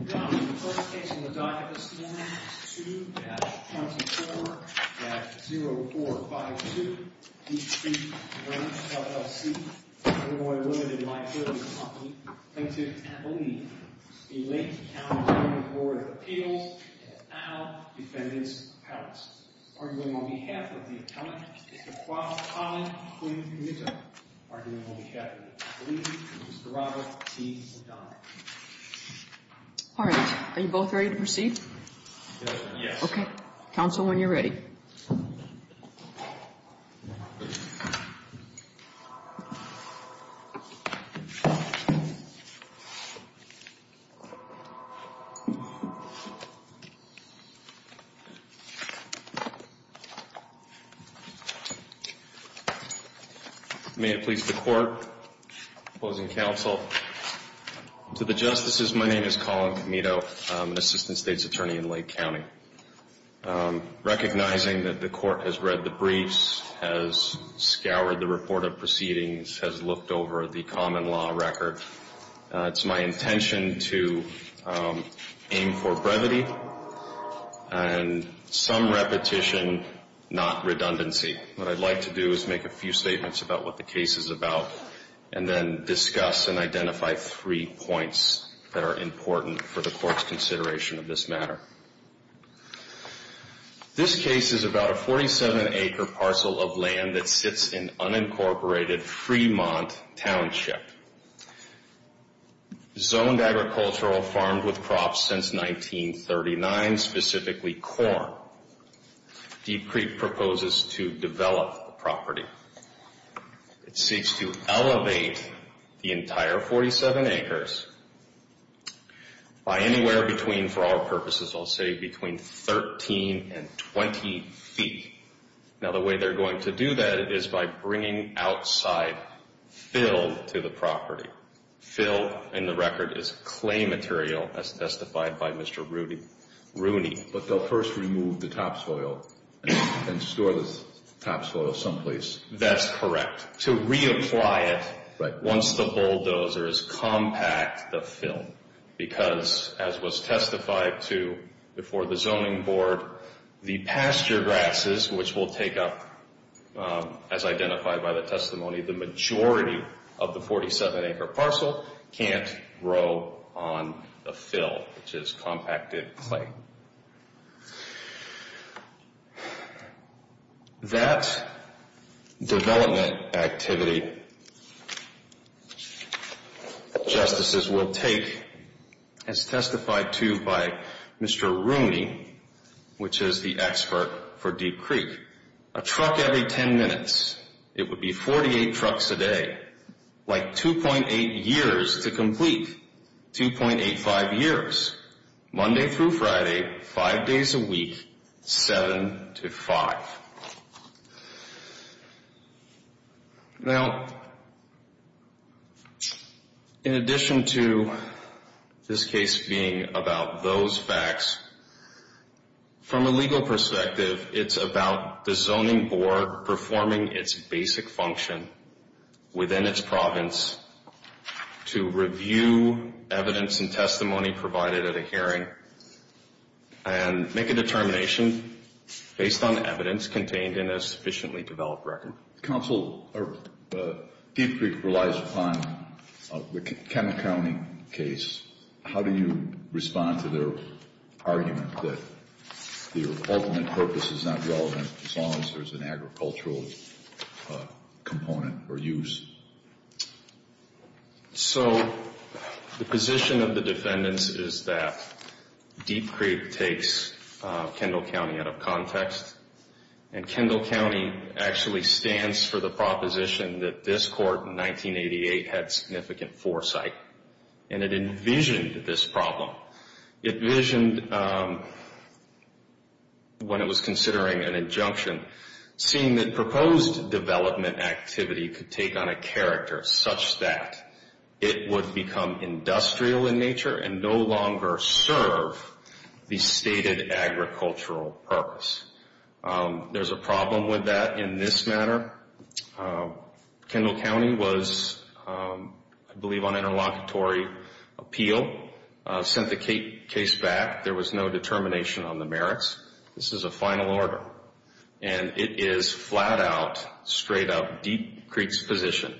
Now, the first case on the docket this morning is 2-24-0452, D.C. Ranch, LLC, Illinois Limited Liability Company, plaintiff, Abilene, v. Lake County Zoning Board of Appeals, at AL Defendant's Palace, arguing on behalf of the appellant, Mr. Kwadwokalon Kwin-Nita, arguing on behalf of Abilene, Mr. Robert T. O'Donnell. All right. Are you both ready to proceed? Yes. Okay. Counsel, when you're ready. May it please the court, opposing counsel, to the justices, my name is Colin Comito. I'm an assistant state's attorney in Lake County. Recognizing that the court has read the briefs, has scoured the report of proceedings, has looked over the common law record, it's my intention to aim for brevity and some repetition, not redundancy. What I'd like to do is make a few statements about what the case is about, and then discuss and identify three points that are important for the court's consideration of this matter. This case is about a 47-acre parcel of land that sits in unincorporated Fremont Township. Zoned agricultural, farmed with crops since 1939, specifically corn. Deep Creek proposes to develop the property. It seeks to elevate the entire 47 acres by anywhere between, for our purposes, I'll say between 13 and 20 feet. Now, the way they're going to do that is by bringing outside fill to the property. Fill in the record is clay material, as testified by Mr. Rooney. But they'll first remove the topsoil and store the topsoil someplace. That's correct. To reapply it once the bulldozers compact the fill. Because, as was testified before the zoning board, the pasture grasses, which will take up, as identified by the testimony, the majority of the 47-acre parcel, can't grow on the fill, which is compacted clay. That development activity, justices will take, as testified to by Mr. Rooney, which is the expert for Deep Creek, a truck every 10 minutes. It would be 48 trucks a day, like 2.8 years to complete. 2.85 years, Monday through Friday, 5 days a week, 7 to 5. Now, in addition to this case being about those facts, from a legal perspective, it's about the zoning board performing its basic function within its province to review evidence and testimony provided at a hearing and make a determination based on evidence contained in a sufficiently developed record. Counsel, Deep Creek relies upon the Kendall County case. How do you respond to their argument that the ultimate purpose is not relevant as long as there's an agricultural component or use? So, the position of the defendants is that Deep Creek takes Kendall County out of context. And Kendall County actually stands for the proposition that this court in 1988 had significant foresight. And it envisioned this problem. It envisioned, when it was considering an injunction, seeing that proposed development activity could take on a character such that it would become industrial in nature and no longer serve the stated agricultural purpose. There's a problem with that in this matter. Kendall County was, I believe, on interlocutory appeal, sent the case back. There was no determination on the merits. This is a final order. And it is flat out, straight up, Deep Creek's position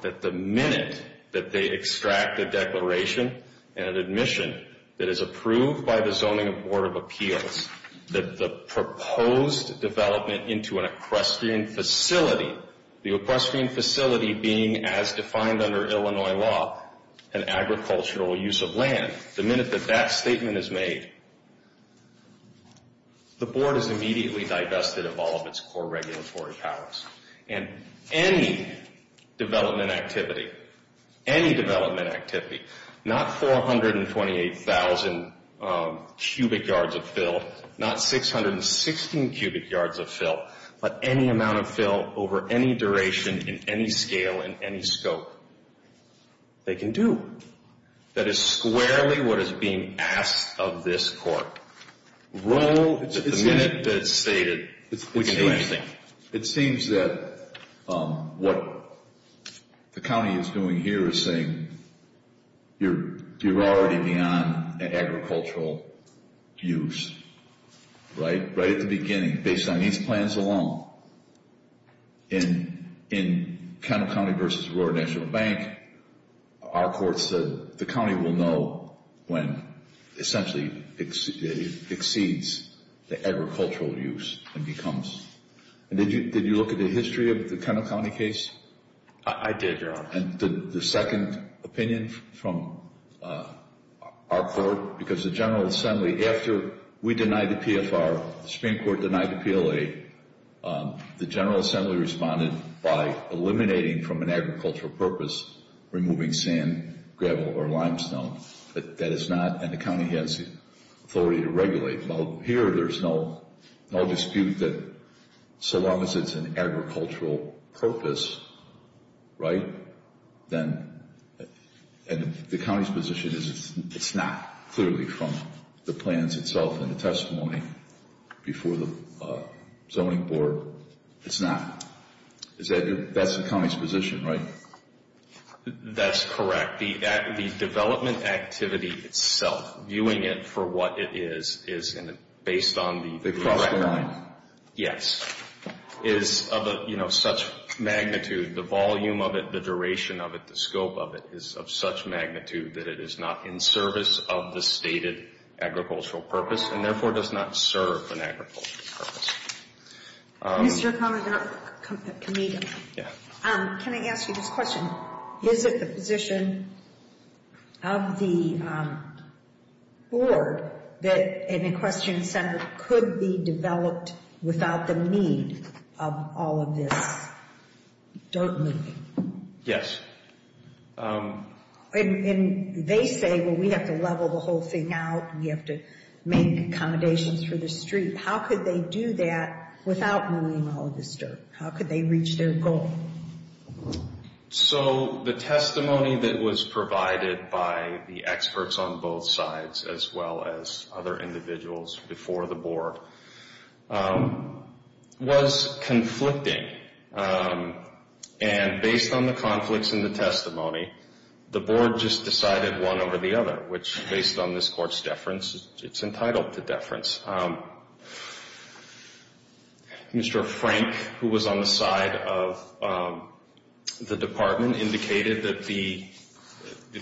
that the minute that they extract a declaration and an admission that is approved by the Zoning Board of Appeals, that the proposed development into an equestrian facility, the equestrian facility being as defined under Illinois law, an agricultural use of land, the minute that that statement is made, the board is immediately divested of all of its core regulatory powers. And any development activity, any development activity, not 428,000 cubic yards of fill, not 616 cubic yards of fill, but any amount of fill over any duration, in any scale, in any scope, they can do. That is squarely what is being asked of this court. The minute that it's stated, we can do anything. It seems that what the county is doing here is saying you're already beyond an agricultural use, right? Right at the beginning, based on these plans alone, in Kendall County versus Aurora National Bank, our courts said the county will know when, essentially, it exceeds the agricultural use and becomes. And did you look at the history of the Kendall County case? I did, Your Honor. And the second opinion from our court, because the General Assembly, after we denied the PFR, the Supreme Court denied the PLA, the General Assembly responded by eliminating from an agricultural purpose, removing sand, gravel, or limestone. That is not, and the county has the authority to regulate. Well, here there's no dispute that so long as it's an agricultural purpose, right, then, and the county's position is it's not, clearly, from the plans itself and the testimony before the zoning board. It's not. That's the county's position, right? That's correct. The development activity itself, viewing it for what it is, is based on the correct amount. Yes. It is of such magnitude, the volume of it, the duration of it, the scope of it, is of such magnitude that it is not in service of the stated agricultural purpose and, therefore, does not serve an agricultural purpose. Mr. Kameeda, can I ask you this question? Is it the position of the board that an equestrian center could be developed without the need of all of this dirt moving? Yes. And they say, well, we have to level the whole thing out. We have to make accommodations for the street. How could they do that without moving all of this dirt? How could they reach their goal? So the testimony that was provided by the experts on both sides, as well as other individuals before the board, was conflicting. And based on the conflicts in the testimony, the board just decided one over the other, which, based on this Court's deference, it's entitled to deference. Mr. Frank, who was on the side of the department, indicated that the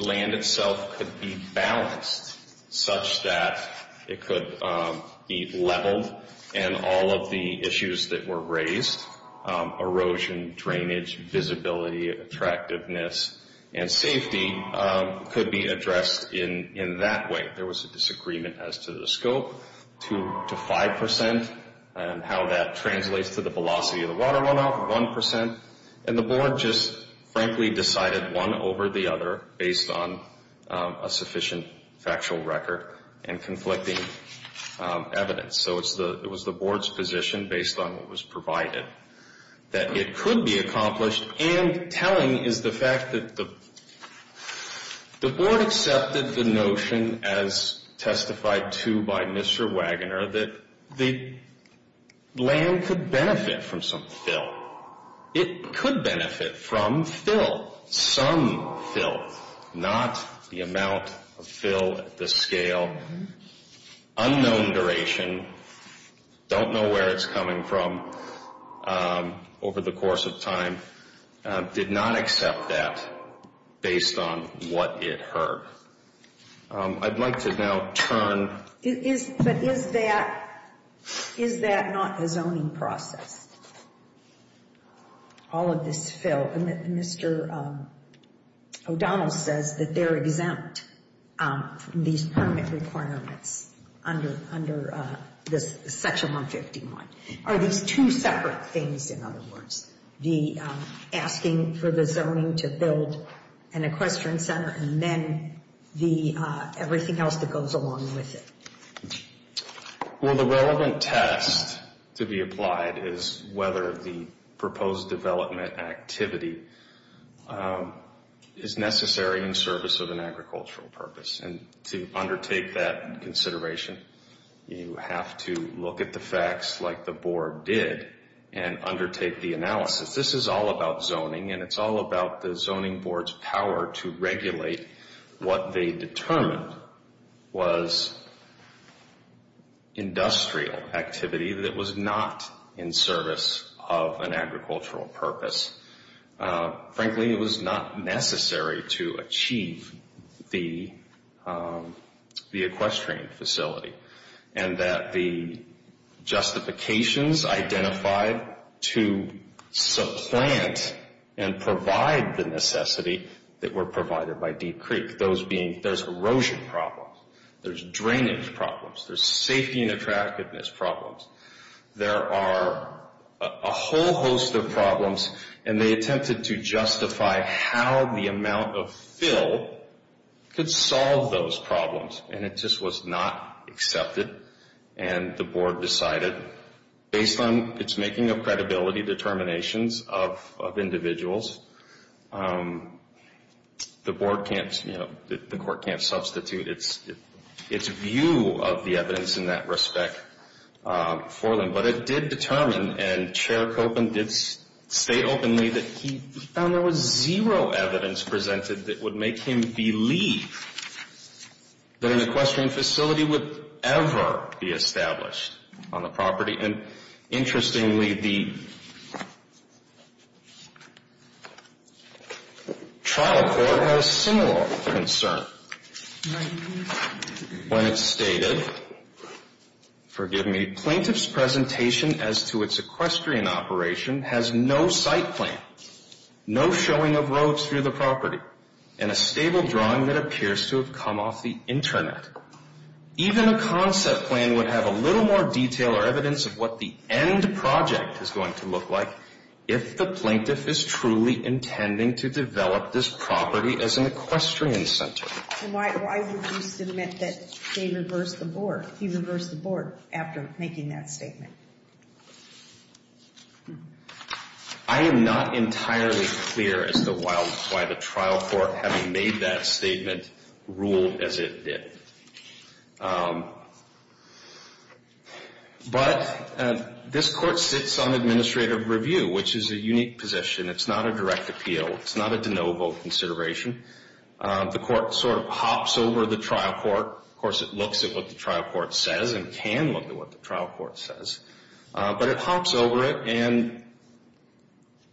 land itself could be balanced such that it could be leveled, and all of the issues that were raised—erosion, drainage, visibility, attractiveness, and safety—could be addressed in that way. There was a disagreement as to the scope, 2 to 5 percent, and how that translates to the velocity of the water runoff, 1 percent. And the board just, frankly, decided one over the other, based on a sufficient factual record and conflicting evidence. So it was the board's position, based on what was provided, that it could be accomplished. And telling is the fact that the board accepted the notion, as testified to by Mr. Wagoner, that the land could benefit from some fill. It could benefit from fill, some fill, not the amount of fill at the scale, unknown duration, don't know where it's coming from over the course of time, did not accept that based on what it heard. I'd like to now turn— But is that not a zoning process? All of this fill—Mr. O'Donnell says that they're exempt from these permit requirements under Section 151. Are these two separate things, in other words? The asking for the zoning to build an equestrian center, and then everything else that goes along with it? Well, the relevant test to be applied is whether the proposed development activity is necessary in service of an agricultural purpose. And to undertake that consideration, you have to look at the facts like the board did and undertake the analysis. This is all about zoning, and it's all about the zoning board's power to regulate what they determined was industrial activity that was not in service of an agricultural purpose. Frankly, it was not necessary to achieve the equestrian facility. And that the justifications identified to supplant and provide the necessity that were provided by Deep Creek, those being there's erosion problems, there's drainage problems, there's safety and attractiveness problems. There are a whole host of problems, and they attempted to justify how the amount of fill could solve those problems. And it just was not accepted. And the board decided, based on its making of credibility determinations of individuals, the board can't, you know, the court can't substitute its view of the evidence in that respect for them. But it did determine, and Chair Koppen did state openly that he found there was zero evidence presented that would make him believe that an equestrian facility would ever be established on the property. And interestingly, the trial court had a similar concern when it stated, forgive me, plaintiff's presentation as to its equestrian operation has no site plan, no showing of roads through the property, and a stable drawing that appears to have come off the internet. Even a concept plan would have a little more detail or evidence of what the end project is going to look like if the plaintiff is truly intending to develop this property as an equestrian center. And why did you submit that they reversed the board, he reversed the board after making that statement? I am not entirely clear as to why the trial court, having made that statement, ruled as it did. But this court sits on administrative review, which is a unique position. It's not a direct appeal. It's not a de novo consideration. The court sort of hops over the trial court. Of course, it looks at what the trial court says and can look at what the trial court says. But it hops over it and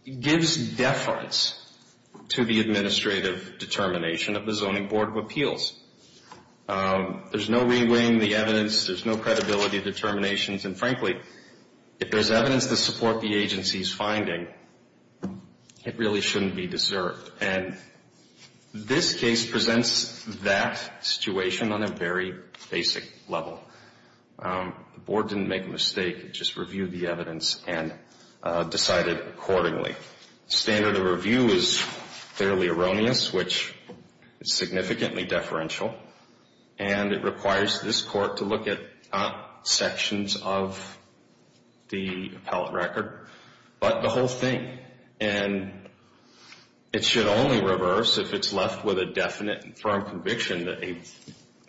gives deference to the administrative determination of the Zoning Board of Appeals. There's no reweighing the evidence. There's no credibility determinations. And frankly, if there's evidence to support the agency's finding, it really shouldn't be deserved. And this case presents that situation on a very basic level. The board didn't make a mistake. It just reviewed the evidence and decided accordingly. The standard of review is fairly erroneous, which is significantly deferential. And it requires this court to look at not sections of the appellate record, but the whole thing. And it should only reverse if it's left with a definite and firm conviction that a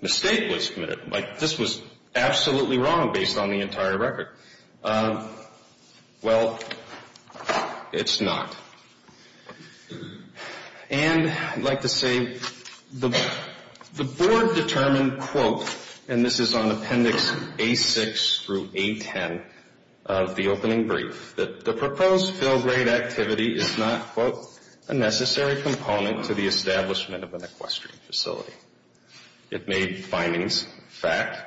mistake was committed. Like, this was absolutely wrong based on the entire record. Well, it's not. And I'd like to say the board determined, quote, and this is on Appendix A-6 through A-10 of the opening brief, that the proposed fail grade activity is not, quote, a necessary component to the establishment of an equestrian facility. It made findings. In fact,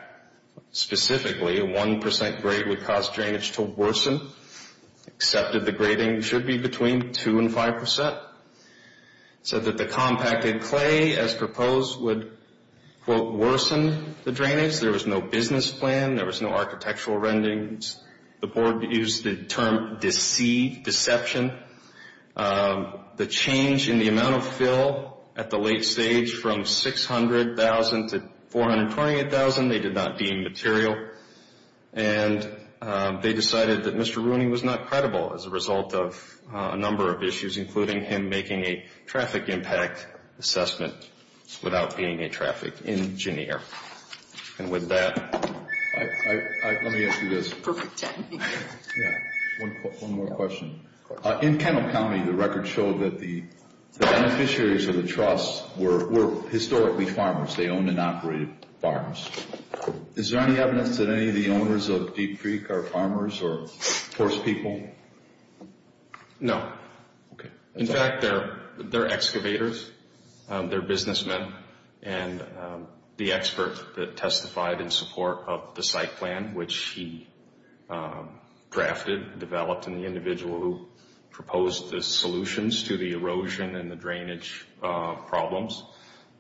specifically, a 1% grade would cause drainage to worsen, except that the grading should be between 2% and 5%. It said that the compacted clay, as proposed, would, quote, worsen the drainage. There was no business plan. There was no architectural rendings. The board used the term deceived, deception. The change in the amount of fill at the late stage from 600,000 to 428,000, they did not deem material. And they decided that Mr. Rooney was not credible as a result of a number of issues, including him making a traffic impact assessment without being a traffic engineer. And with that, let me ask you this. Perfect timing. One more question. In Kendall County, the records show that the beneficiaries of the trust were historically farmers. They owned and operated farms. Is there any evidence that any of the owners of Deep Creek are farmers or forest people? No. In fact, they're excavators. They're businessmen. And the expert that testified in support of the site plan, which he drafted, developed, and the individual who proposed the solutions to the erosion and the drainage problems,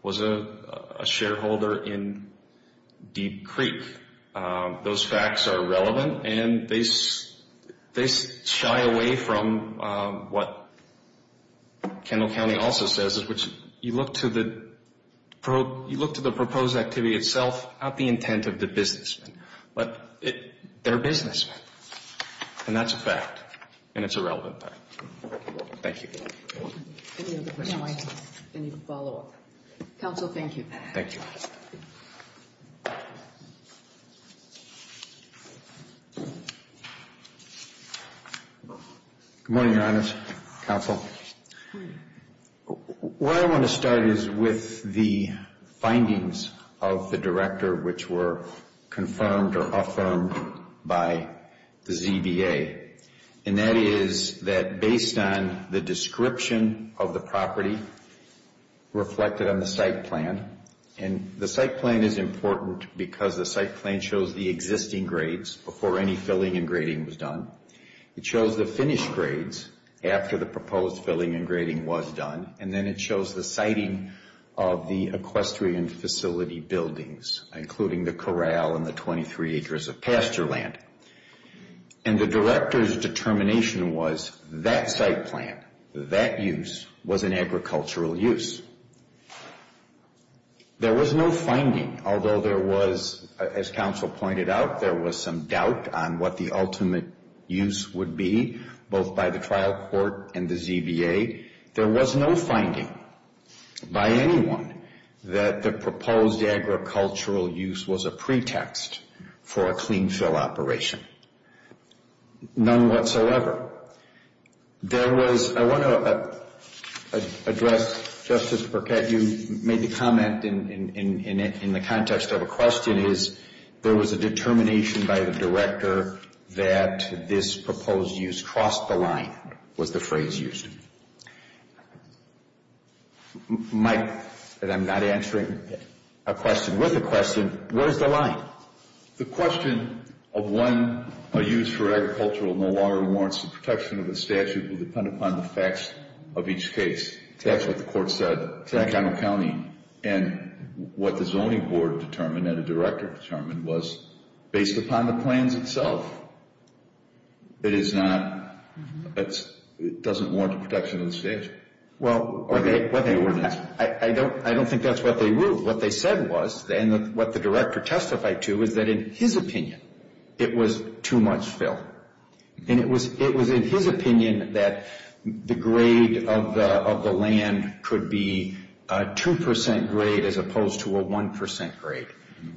was a shareholder in Deep Creek. Those facts are relevant, and they shy away from what Kendall County also says, which you look to the proposed activity itself, not the intent of the businessmen, but they're businessmen. And that's a fact, and it's a relevant fact. Thank you. Any other questions? Any follow-up? Counsel, thank you. Thank you. Good morning, Your Honors. Counsel, what I want to start is with the findings of the director, which were confirmed or affirmed by the ZBA, and that is that based on the description of the property reflected on the site plan and the site plan is important because the site plan shows the existing grades before any filling and grading was done. It shows the finished grades after the proposed filling and grading was done, and then it shows the siting of the equestrian facility buildings, including the corral and the 23 acres of pasture land. And the director's determination was that site plan, that use, was an agricultural use. There was no finding, although there was, as counsel pointed out, there was some doubt on what the ultimate use would be, both by the trial court and the ZBA. There was no finding by anyone that the proposed agricultural use was a pretext for a clean-fill operation, none whatsoever. There was, I want to address, Justice Burkett, you made the comment in the context of a question is there was a determination by the director that this proposed use crossed the line was the phrase used. Mike, and I'm not answering a question with a question, where is the line? The question of when a use for agricultural no longer warrants the protection of the statute will depend upon the facts of each case. That's what the court said in McConnell County, and what the zoning board determined and the director determined was based upon the plans itself. It is not, it doesn't warrant the protection of the statute. Well, I don't think that's what they ruled. What they said was, and what the director testified to, is that in his opinion, it was too much fill. And it was in his opinion that the grade of the land could be a 2% grade as opposed to a 1% grade.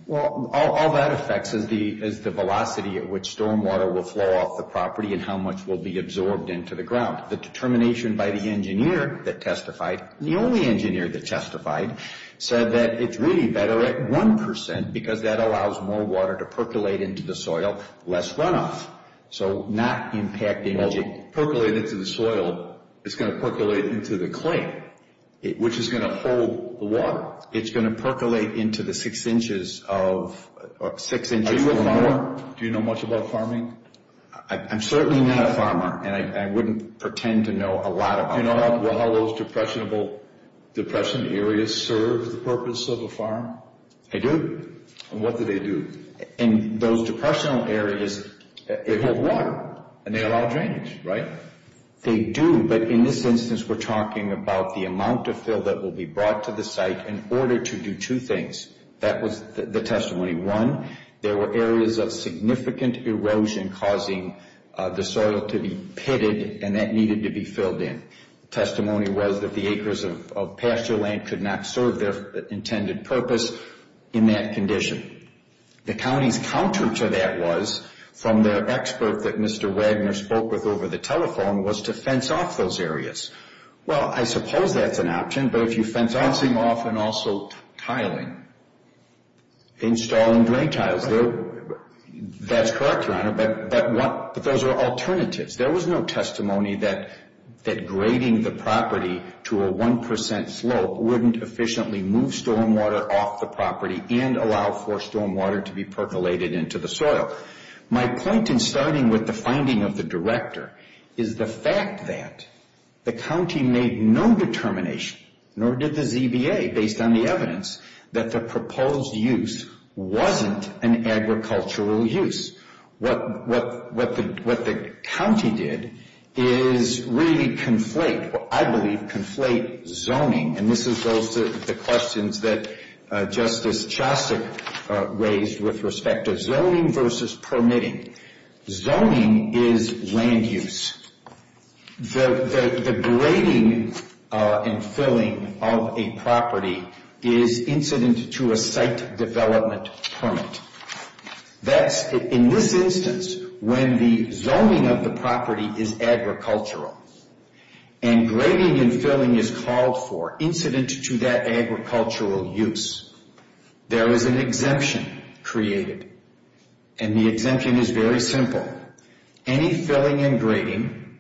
Well, all that affects is the velocity at which stormwater will flow off the property and how much will be absorbed into the ground. The determination by the engineer that testified, the only engineer that testified, said that it's really better at 1% because that allows more water to percolate into the soil, less runoff. So not impact energy. Well, percolate into the soil, it's going to percolate into the clay, which is going to hold the water. It's going to percolate into the six inches of, six inches or more. Are you a farmer? Do you know much about farming? I'm certainly not a farmer, and I wouldn't pretend to know a lot about farming. Do you know how those depression areas serve the purpose of a farm? I do. And what do they do? And those depressional areas, they hold water, and they allow drainage, right? They do, but in this instance, we're talking about the amount of fill that will be brought to the site in order to do two things. That was the testimony. One, there were areas of significant erosion causing the soil to be pitted, and that needed to be filled in. The testimony was that the acres of pasture land could not serve their intended purpose in that condition. The county's counter to that was, from the expert that Mr. Wagner spoke with over the telephone, was to fence off those areas. Well, I suppose that's an option, but if you fence off and also tiling, installing drain tiles, that's correct, Your Honor, but those are alternatives. There was no testimony that grading the property to a one percent slope wouldn't efficiently move stormwater off the property and allow for stormwater to be percolated into the soil. My point in starting with the finding of the director is the fact that the county made no determination, nor did the ZBA, based on the evidence, that the proposed use wasn't an agricultural use. What the county did is really conflate, I believe, conflate zoning, and this is the questions that Justice Chostik raised with respect to zoning versus permitting. Zoning is land use. The grading and filling of a property is incident to a site development permit. That's, in this instance, when the zoning of the property is agricultural, and grading and filling is called for incident to that agricultural use, there is an exemption created, and the exemption is very simple. Any filling and grading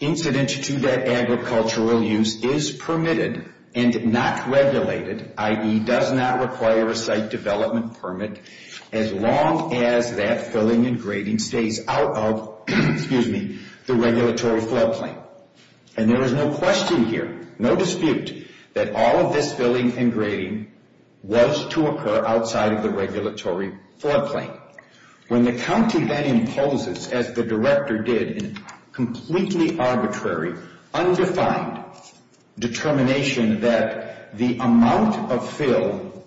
incident to that agricultural use is permitted and not regulated, i.e., does not require a site development permit, as long as that filling and grading stays out of the regulatory floodplain. And there is no question here, no dispute, that all of this filling and grading was to occur outside of the regulatory floodplain. When the county then imposes, as the director did, a completely arbitrary, undefined determination that the amount of fill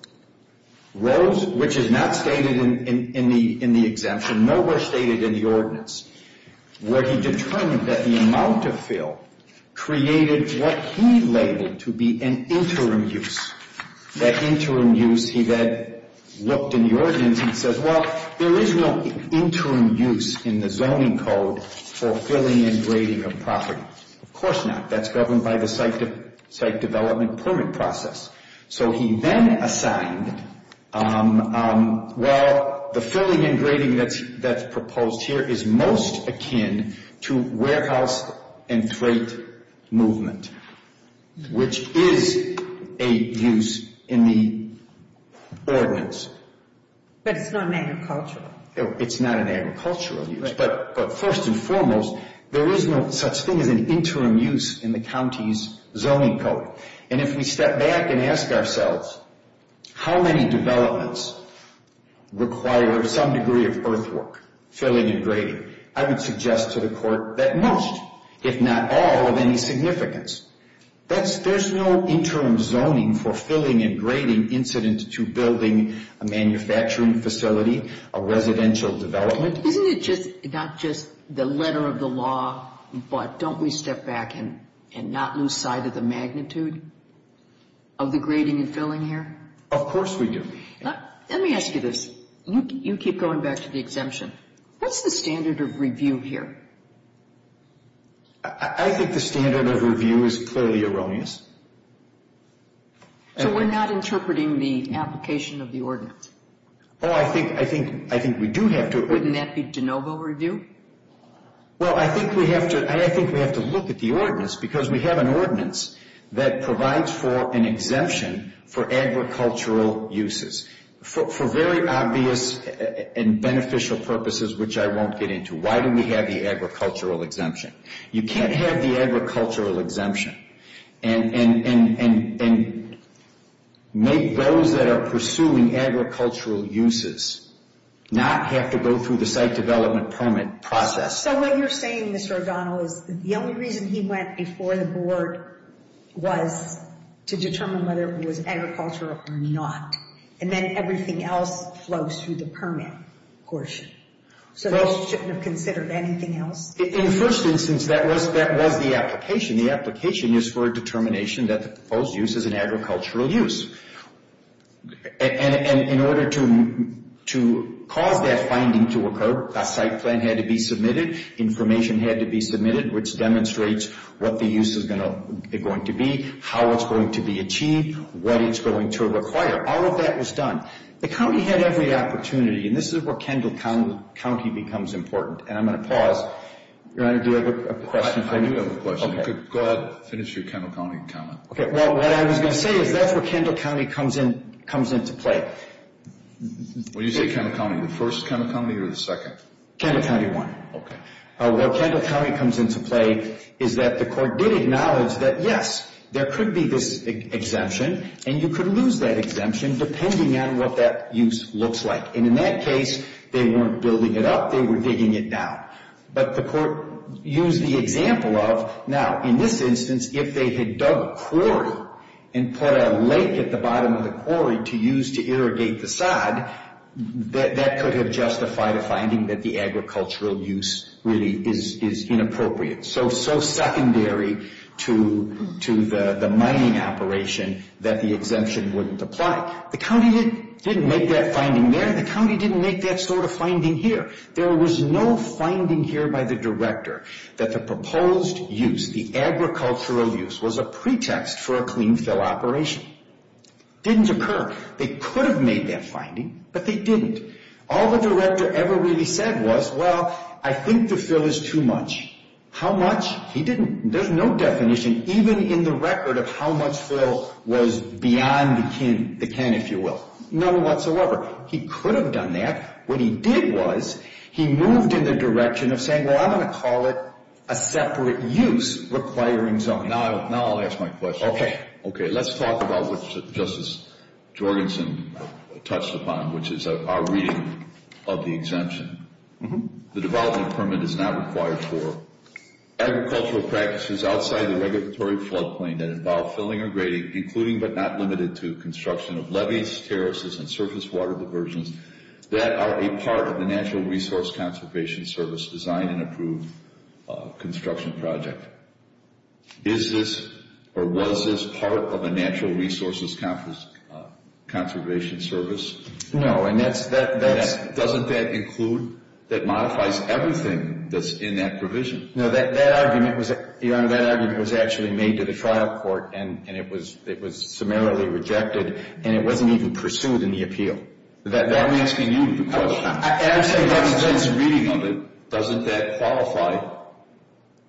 rose, which is not stated in the exemption, nowhere stated in the ordinance, where he determined that the amount of fill created what he labeled to be an interim use. That interim use, he then looked in the ordinance and said, well, there is no interim use in the zoning code for filling and grading of property. Of course not. That's governed by the site development permit process. So he then assigned, well, the filling and grading that's proposed here is most akin to warehouse and freight movement, which is a use in the ordinance. But it's not an agricultural. It's not an agricultural use. But first and foremost, there is no such thing as an interim use in the county's zoning code. And if we step back and ask ourselves how many developments require some degree of earthwork, filling and grading, I would suggest to the court that most, if not all, of any significance. There's no interim zoning for filling and grading incident to building a manufacturing facility, a residential development. Isn't it just not just the letter of the law, but don't we step back and not lose sight of the magnitude of the grading and filling here? Of course we do. Let me ask you this. You keep going back to the exemption. What's the standard of review here? I think the standard of review is clearly erroneous. So we're not interpreting the application of the ordinance? Oh, I think we do have to. Wouldn't that be de novo review? Well, I think we have to look at the ordinance because we have an ordinance that provides for an exemption for agricultural uses for very obvious and beneficial purposes, which I won't get into. Why do we have the agricultural exemption? You can't have the agricultural exemption and make those that are pursuing agricultural uses not have to go through the site development permit process. So what you're saying, Mr. O'Donnell, is the only reason he went before the board was to determine whether it was agricultural or not, and then everything else flows through the permit portion. So those shouldn't have considered anything else? In the first instance, that was the application. The application is for a determination that the proposed use is an agricultural use. And in order to cause that finding to occur, a site plan had to be submitted, information had to be submitted, which demonstrates what the use is going to be, how it's going to be achieved, what it's going to require. All of that was done. The county had every opportunity, and this is where Kendall County becomes important, and I'm going to pause. Your Honor, do you have a question for me? I do have a question. Go ahead. Finish your Kendall County comment. Okay. Well, what I was going to say is that's where Kendall County comes into play. When you say Kendall County, the first Kendall County or the second? Kendall County won. Okay. Where Kendall County comes into play is that the court did acknowledge that, yes, there could be this exemption, and you could lose that exemption depending on what that use looks like. And in that case, they weren't building it up. They were digging it down. But the court used the example of, now, in this instance, if they had dug a quarry and put a lake at the bottom of the quarry to use to irrigate the sod, that could have justified a finding that the agricultural use really is inappropriate, so secondary to the mining operation that the exemption wouldn't apply. The county didn't make that finding there. The county didn't make that sort of finding here. There was no finding here by the director that the proposed use, the agricultural use, was a pretext for a clean fill operation. It didn't occur. They could have made that finding, but they didn't. All the director ever really said was, well, I think the fill is too much. How much? He didn't. There's no definition even in the record of how much fill was beyond the can, if you will. None whatsoever. He could have done that. What he did was he moved in the direction of saying, well, I'm going to call it a separate use requiring zoning. Now I'll ask my question. Okay. Okay. Let's talk about what Justice Jorgensen touched upon, which is our reading of the exemption. The development permit is not required for agricultural practices outside the regulatory floodplain that involve filling or grading, including but not limited to construction of levees, terraces, and surface water diversions that are a part of the Natural Resource Conservation Service design and approved construction project. Is this or was this part of a Natural Resources Conservation Service? No. Doesn't that include that modifies everything that's in that provision? No. That argument was actually made to the trial court, and it was summarily rejected, and it wasn't even pursued in the appeal. I'm asking you the question. I'm saying that's the reading of it. Doesn't that qualify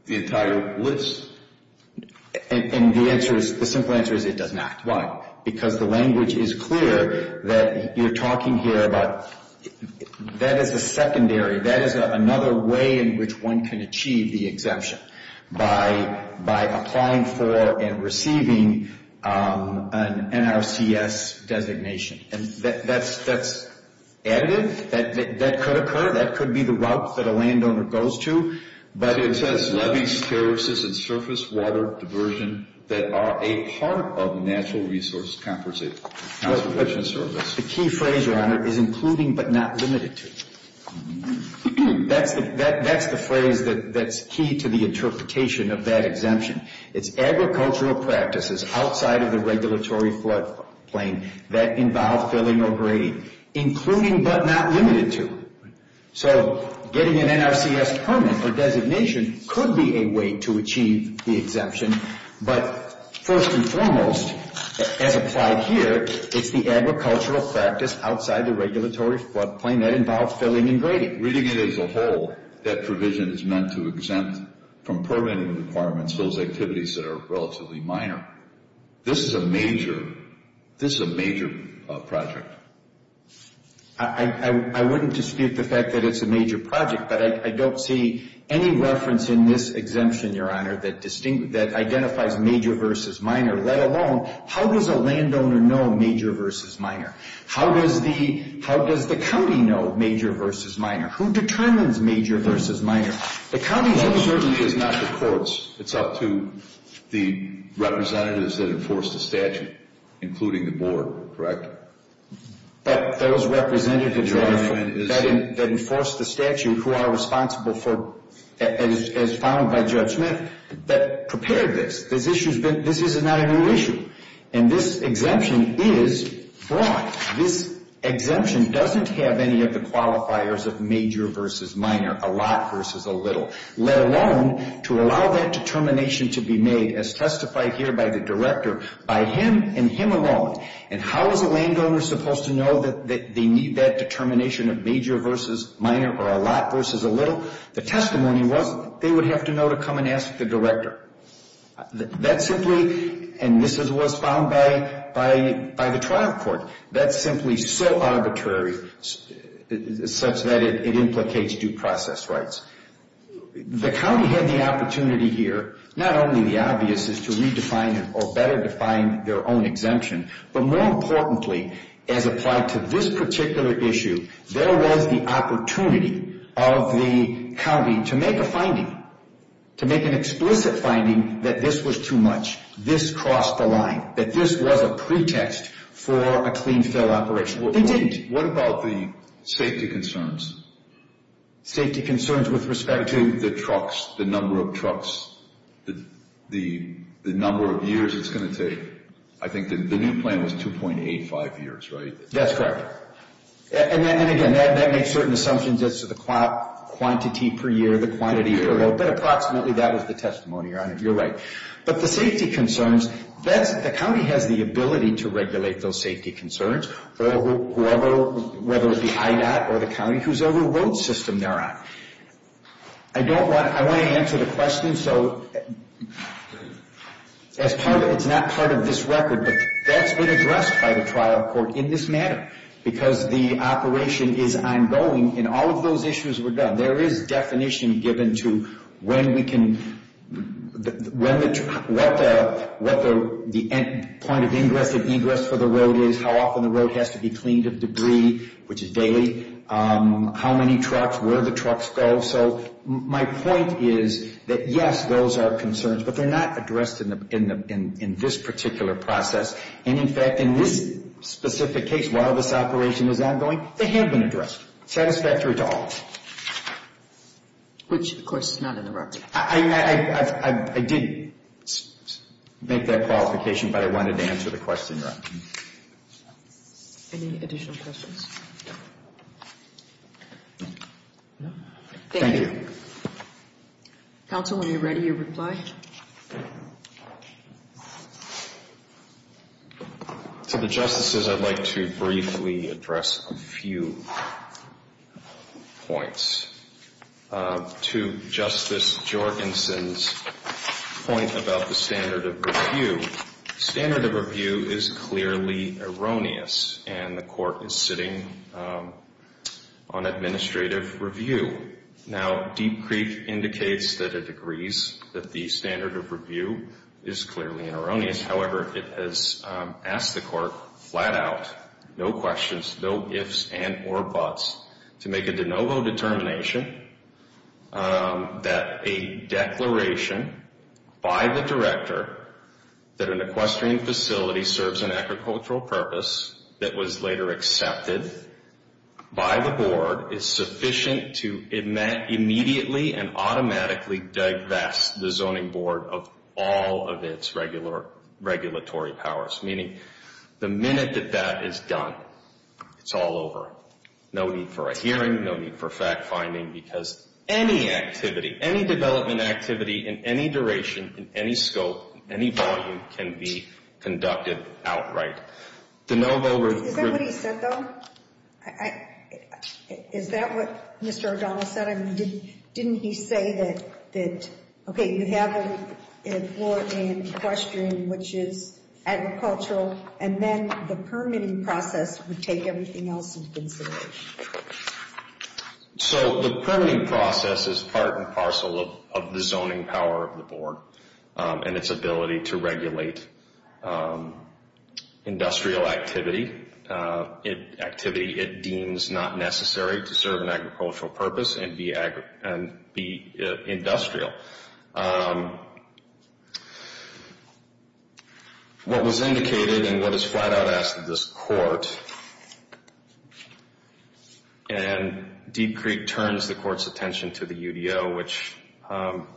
the entire list? And the answer is, the simple answer is it does not. Why? Because the language is clear that you're talking here about that is a secondary, that is another way in which one can achieve the exemption. By applying for and receiving an NRCS designation. And that's additive. That could occur. That could be the route that a landowner goes to. But it says levees, terraces, and surface water diversion that are a part of Natural Resource Conservation Service. The key phrase, Your Honor, is including but not limited to. That's the phrase that's key to the interpretation of that exemption. It's agricultural practices outside of the regulatory floodplain that involve filling or grading. Including but not limited to. So getting an NRCS permit or designation could be a way to achieve the exemption. But first and foremost, as applied here, it's the agricultural practice outside the regulatory floodplain that involves filling and grading. Reading it as a whole, that provision is meant to exempt from permitting requirements those activities that are relatively minor. This is a major project. I wouldn't dispute the fact that it's a major project, but I don't see any reference in this exemption, Your Honor, that identifies major versus minor, let alone, how does a landowner know major versus minor? How does the county know major versus minor? Who determines major versus minor? The county's uncertainty is not the court's. It's up to the representatives that enforce the statute, including the board, correct? But those representatives that enforce the statute who are responsible for, as found by Judge Smith, that prepared this. This is not a new issue. And this exemption is broad. This exemption doesn't have any of the qualifiers of major versus minor, a lot versus a little, let alone to allow that determination to be made, as testified here by the director, by him and him alone. And how is a landowner supposed to know that they need that determination of major versus minor or a lot versus a little? The testimony was they would have to know to come and ask the director. That simply, and this was found by the trial court, that's simply so arbitrary such that it implicates due process rights. The county had the opportunity here, not only the obvious is to redefine or better define their own exemption, but more importantly, as applied to this particular issue, there was the opportunity of the county to make a finding, to make an explicit finding that this was too much, this crossed the line, that this was a pretext for a clean fill operation. They didn't. What about the safety concerns? Safety concerns with respect to? The trucks, the number of trucks, the number of years it's going to take. I think the new plan was 2.85 years, right? That's correct. And then again, that makes certain assumptions as to the quantity per year, the quantity per year, but approximately that was the testimony, Your Honor. You're right. But the safety concerns, the county has the ability to regulate those safety concerns, whether it's the IDOT or the county, who's over what system they're on. I don't want, I want to answer the question, so as part of, it's not part of this record, but that's been addressed by the trial court in this matter because the operation is ongoing, and all of those issues were done. There is definition given to when we can, what the point of ingress and egress for the road is, how often the road has to be cleaned of debris, which is daily, how many trucks, where the trucks go. So my point is that, yes, those are concerns, but they're not addressed in this particular process. And in fact, in this specific case, while this operation is ongoing, they have been addressed. Satisfactory to all of us. Which, of course, is not in the record. I did make that qualification, but I wanted to answer the question, Your Honor. Any additional questions? Thank you. Counsel, when you're ready, you reply. To the Justices, I'd like to briefly address a few points. To Justice Jorgensen's point about the standard of review, standard of review is clearly erroneous, and the Court is sitting on administrative review. Now, Deep Creek indicates that it agrees that the standard of review is clearly erroneous. However, it has asked the Court flat out, no questions, no ifs and or buts, to make a de novo determination that a declaration by the Director that an equestrian facility serves an agricultural purpose that was later accepted by the Board is sufficient to immediately and automatically divest the Zoning Board of all of its regulatory powers. Meaning, the minute that that is done, it's all over. No need for a hearing, no need for fact-finding, because any activity, any development activity, in any duration, in any scope, any volume, can be conducted outright. Is that what he said, though? Is that what Mr. O'Donnell said? I mean, didn't he say that, okay, you have a floor in equestrian, which is agricultural, and then the permitting process would take everything else into consideration? So the permitting process is part and parcel of the zoning power of the Board and its ability to regulate industrial activity, activity it deems not necessary to serve an agricultural purpose and be industrial. Now, what was indicated and what is flat out asked of this Court, and Deep Creek turns the Court's attention to the UDO, which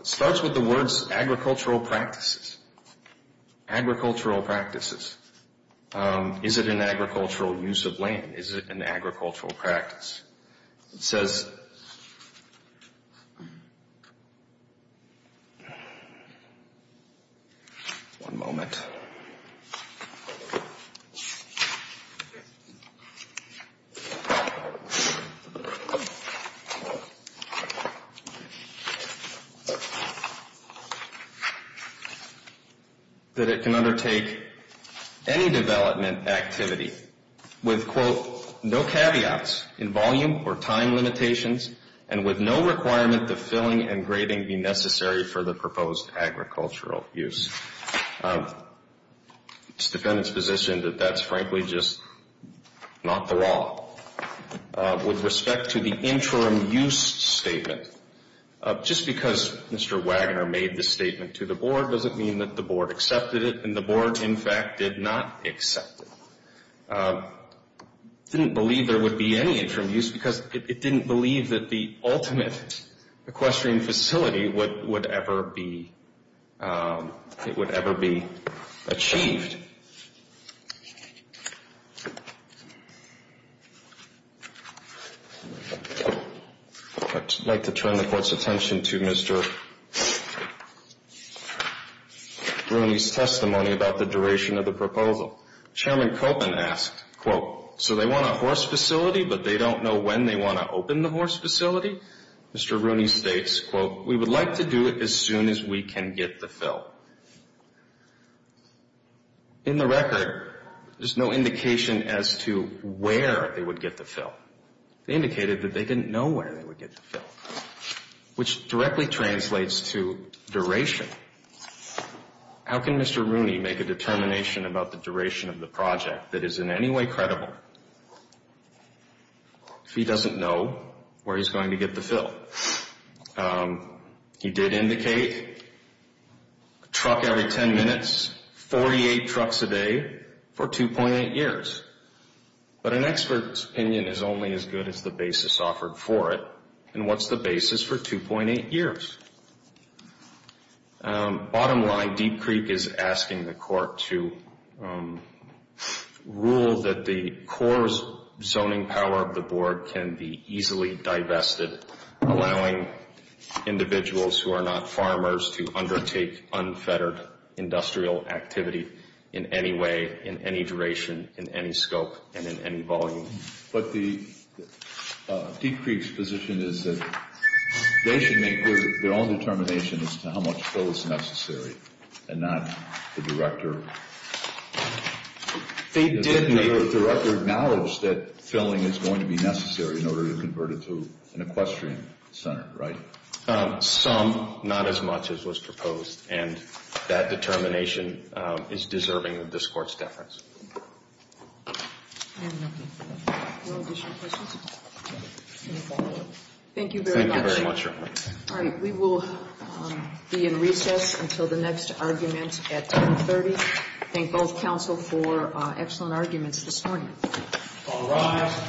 starts with the words, agricultural practices, agricultural practices. Is it an agricultural use of land? Is it an agricultural practice? It says... One moment. One moment. That it can undertake any development activity with, quote, no caveats in volume or time limitations, and with no requirement that filling and grading be necessary for the proposed agricultural use. It's the defendant's position that that's frankly just not the law. With respect to the interim use statement, just because Mr. Wagner made this statement to the Board doesn't mean that the Board accepted it, and the Board, in fact, did not accept it. Didn't believe there would be any interim use because it didn't believe that the ultimate equestrian facility would ever be achieved. I'd like to turn the Court's attention to Mr. Rooney's testimony about the duration of the proposal. Chairman Koppen asked, quote, so they want a horse facility, but they don't know when they want to open the horse facility? Mr. Rooney states, quote, we would like to do it as soon as we can get the fill. In the record, there's no indication as to where they would get the fill. They indicated that they didn't know where they would get the fill, which directly translates to duration. How can Mr. Rooney make a determination about the duration of the project that is in any way credible if he doesn't know where he's going to get the fill? He did indicate a truck every 10 minutes, 48 trucks a day for 2.8 years. But an expert's opinion is only as good as the basis offered for it. And what's the basis for 2.8 years? Bottom line, Deep Creek is asking the Court to rule that the Corps' zoning power of the Board can be easily divested, allowing individuals who are not farmers to undertake unfettered industrial activity in any way, in any duration, in any scope, and in any volume. But Deep Creek's position is that they should make their own determination as to how much fill is necessary and not the Director. They did make... The Director acknowledged that filling is going to be necessary in order to convert it to an equestrian center, right? Some, not as much as was proposed. And that determination is deserving of this Court's deference. Thank you very much. Thank you very much, Your Honor. All right, we will be in recess until the next argument at 10.30. Thank both counsel for excellent arguments this morning. All rise.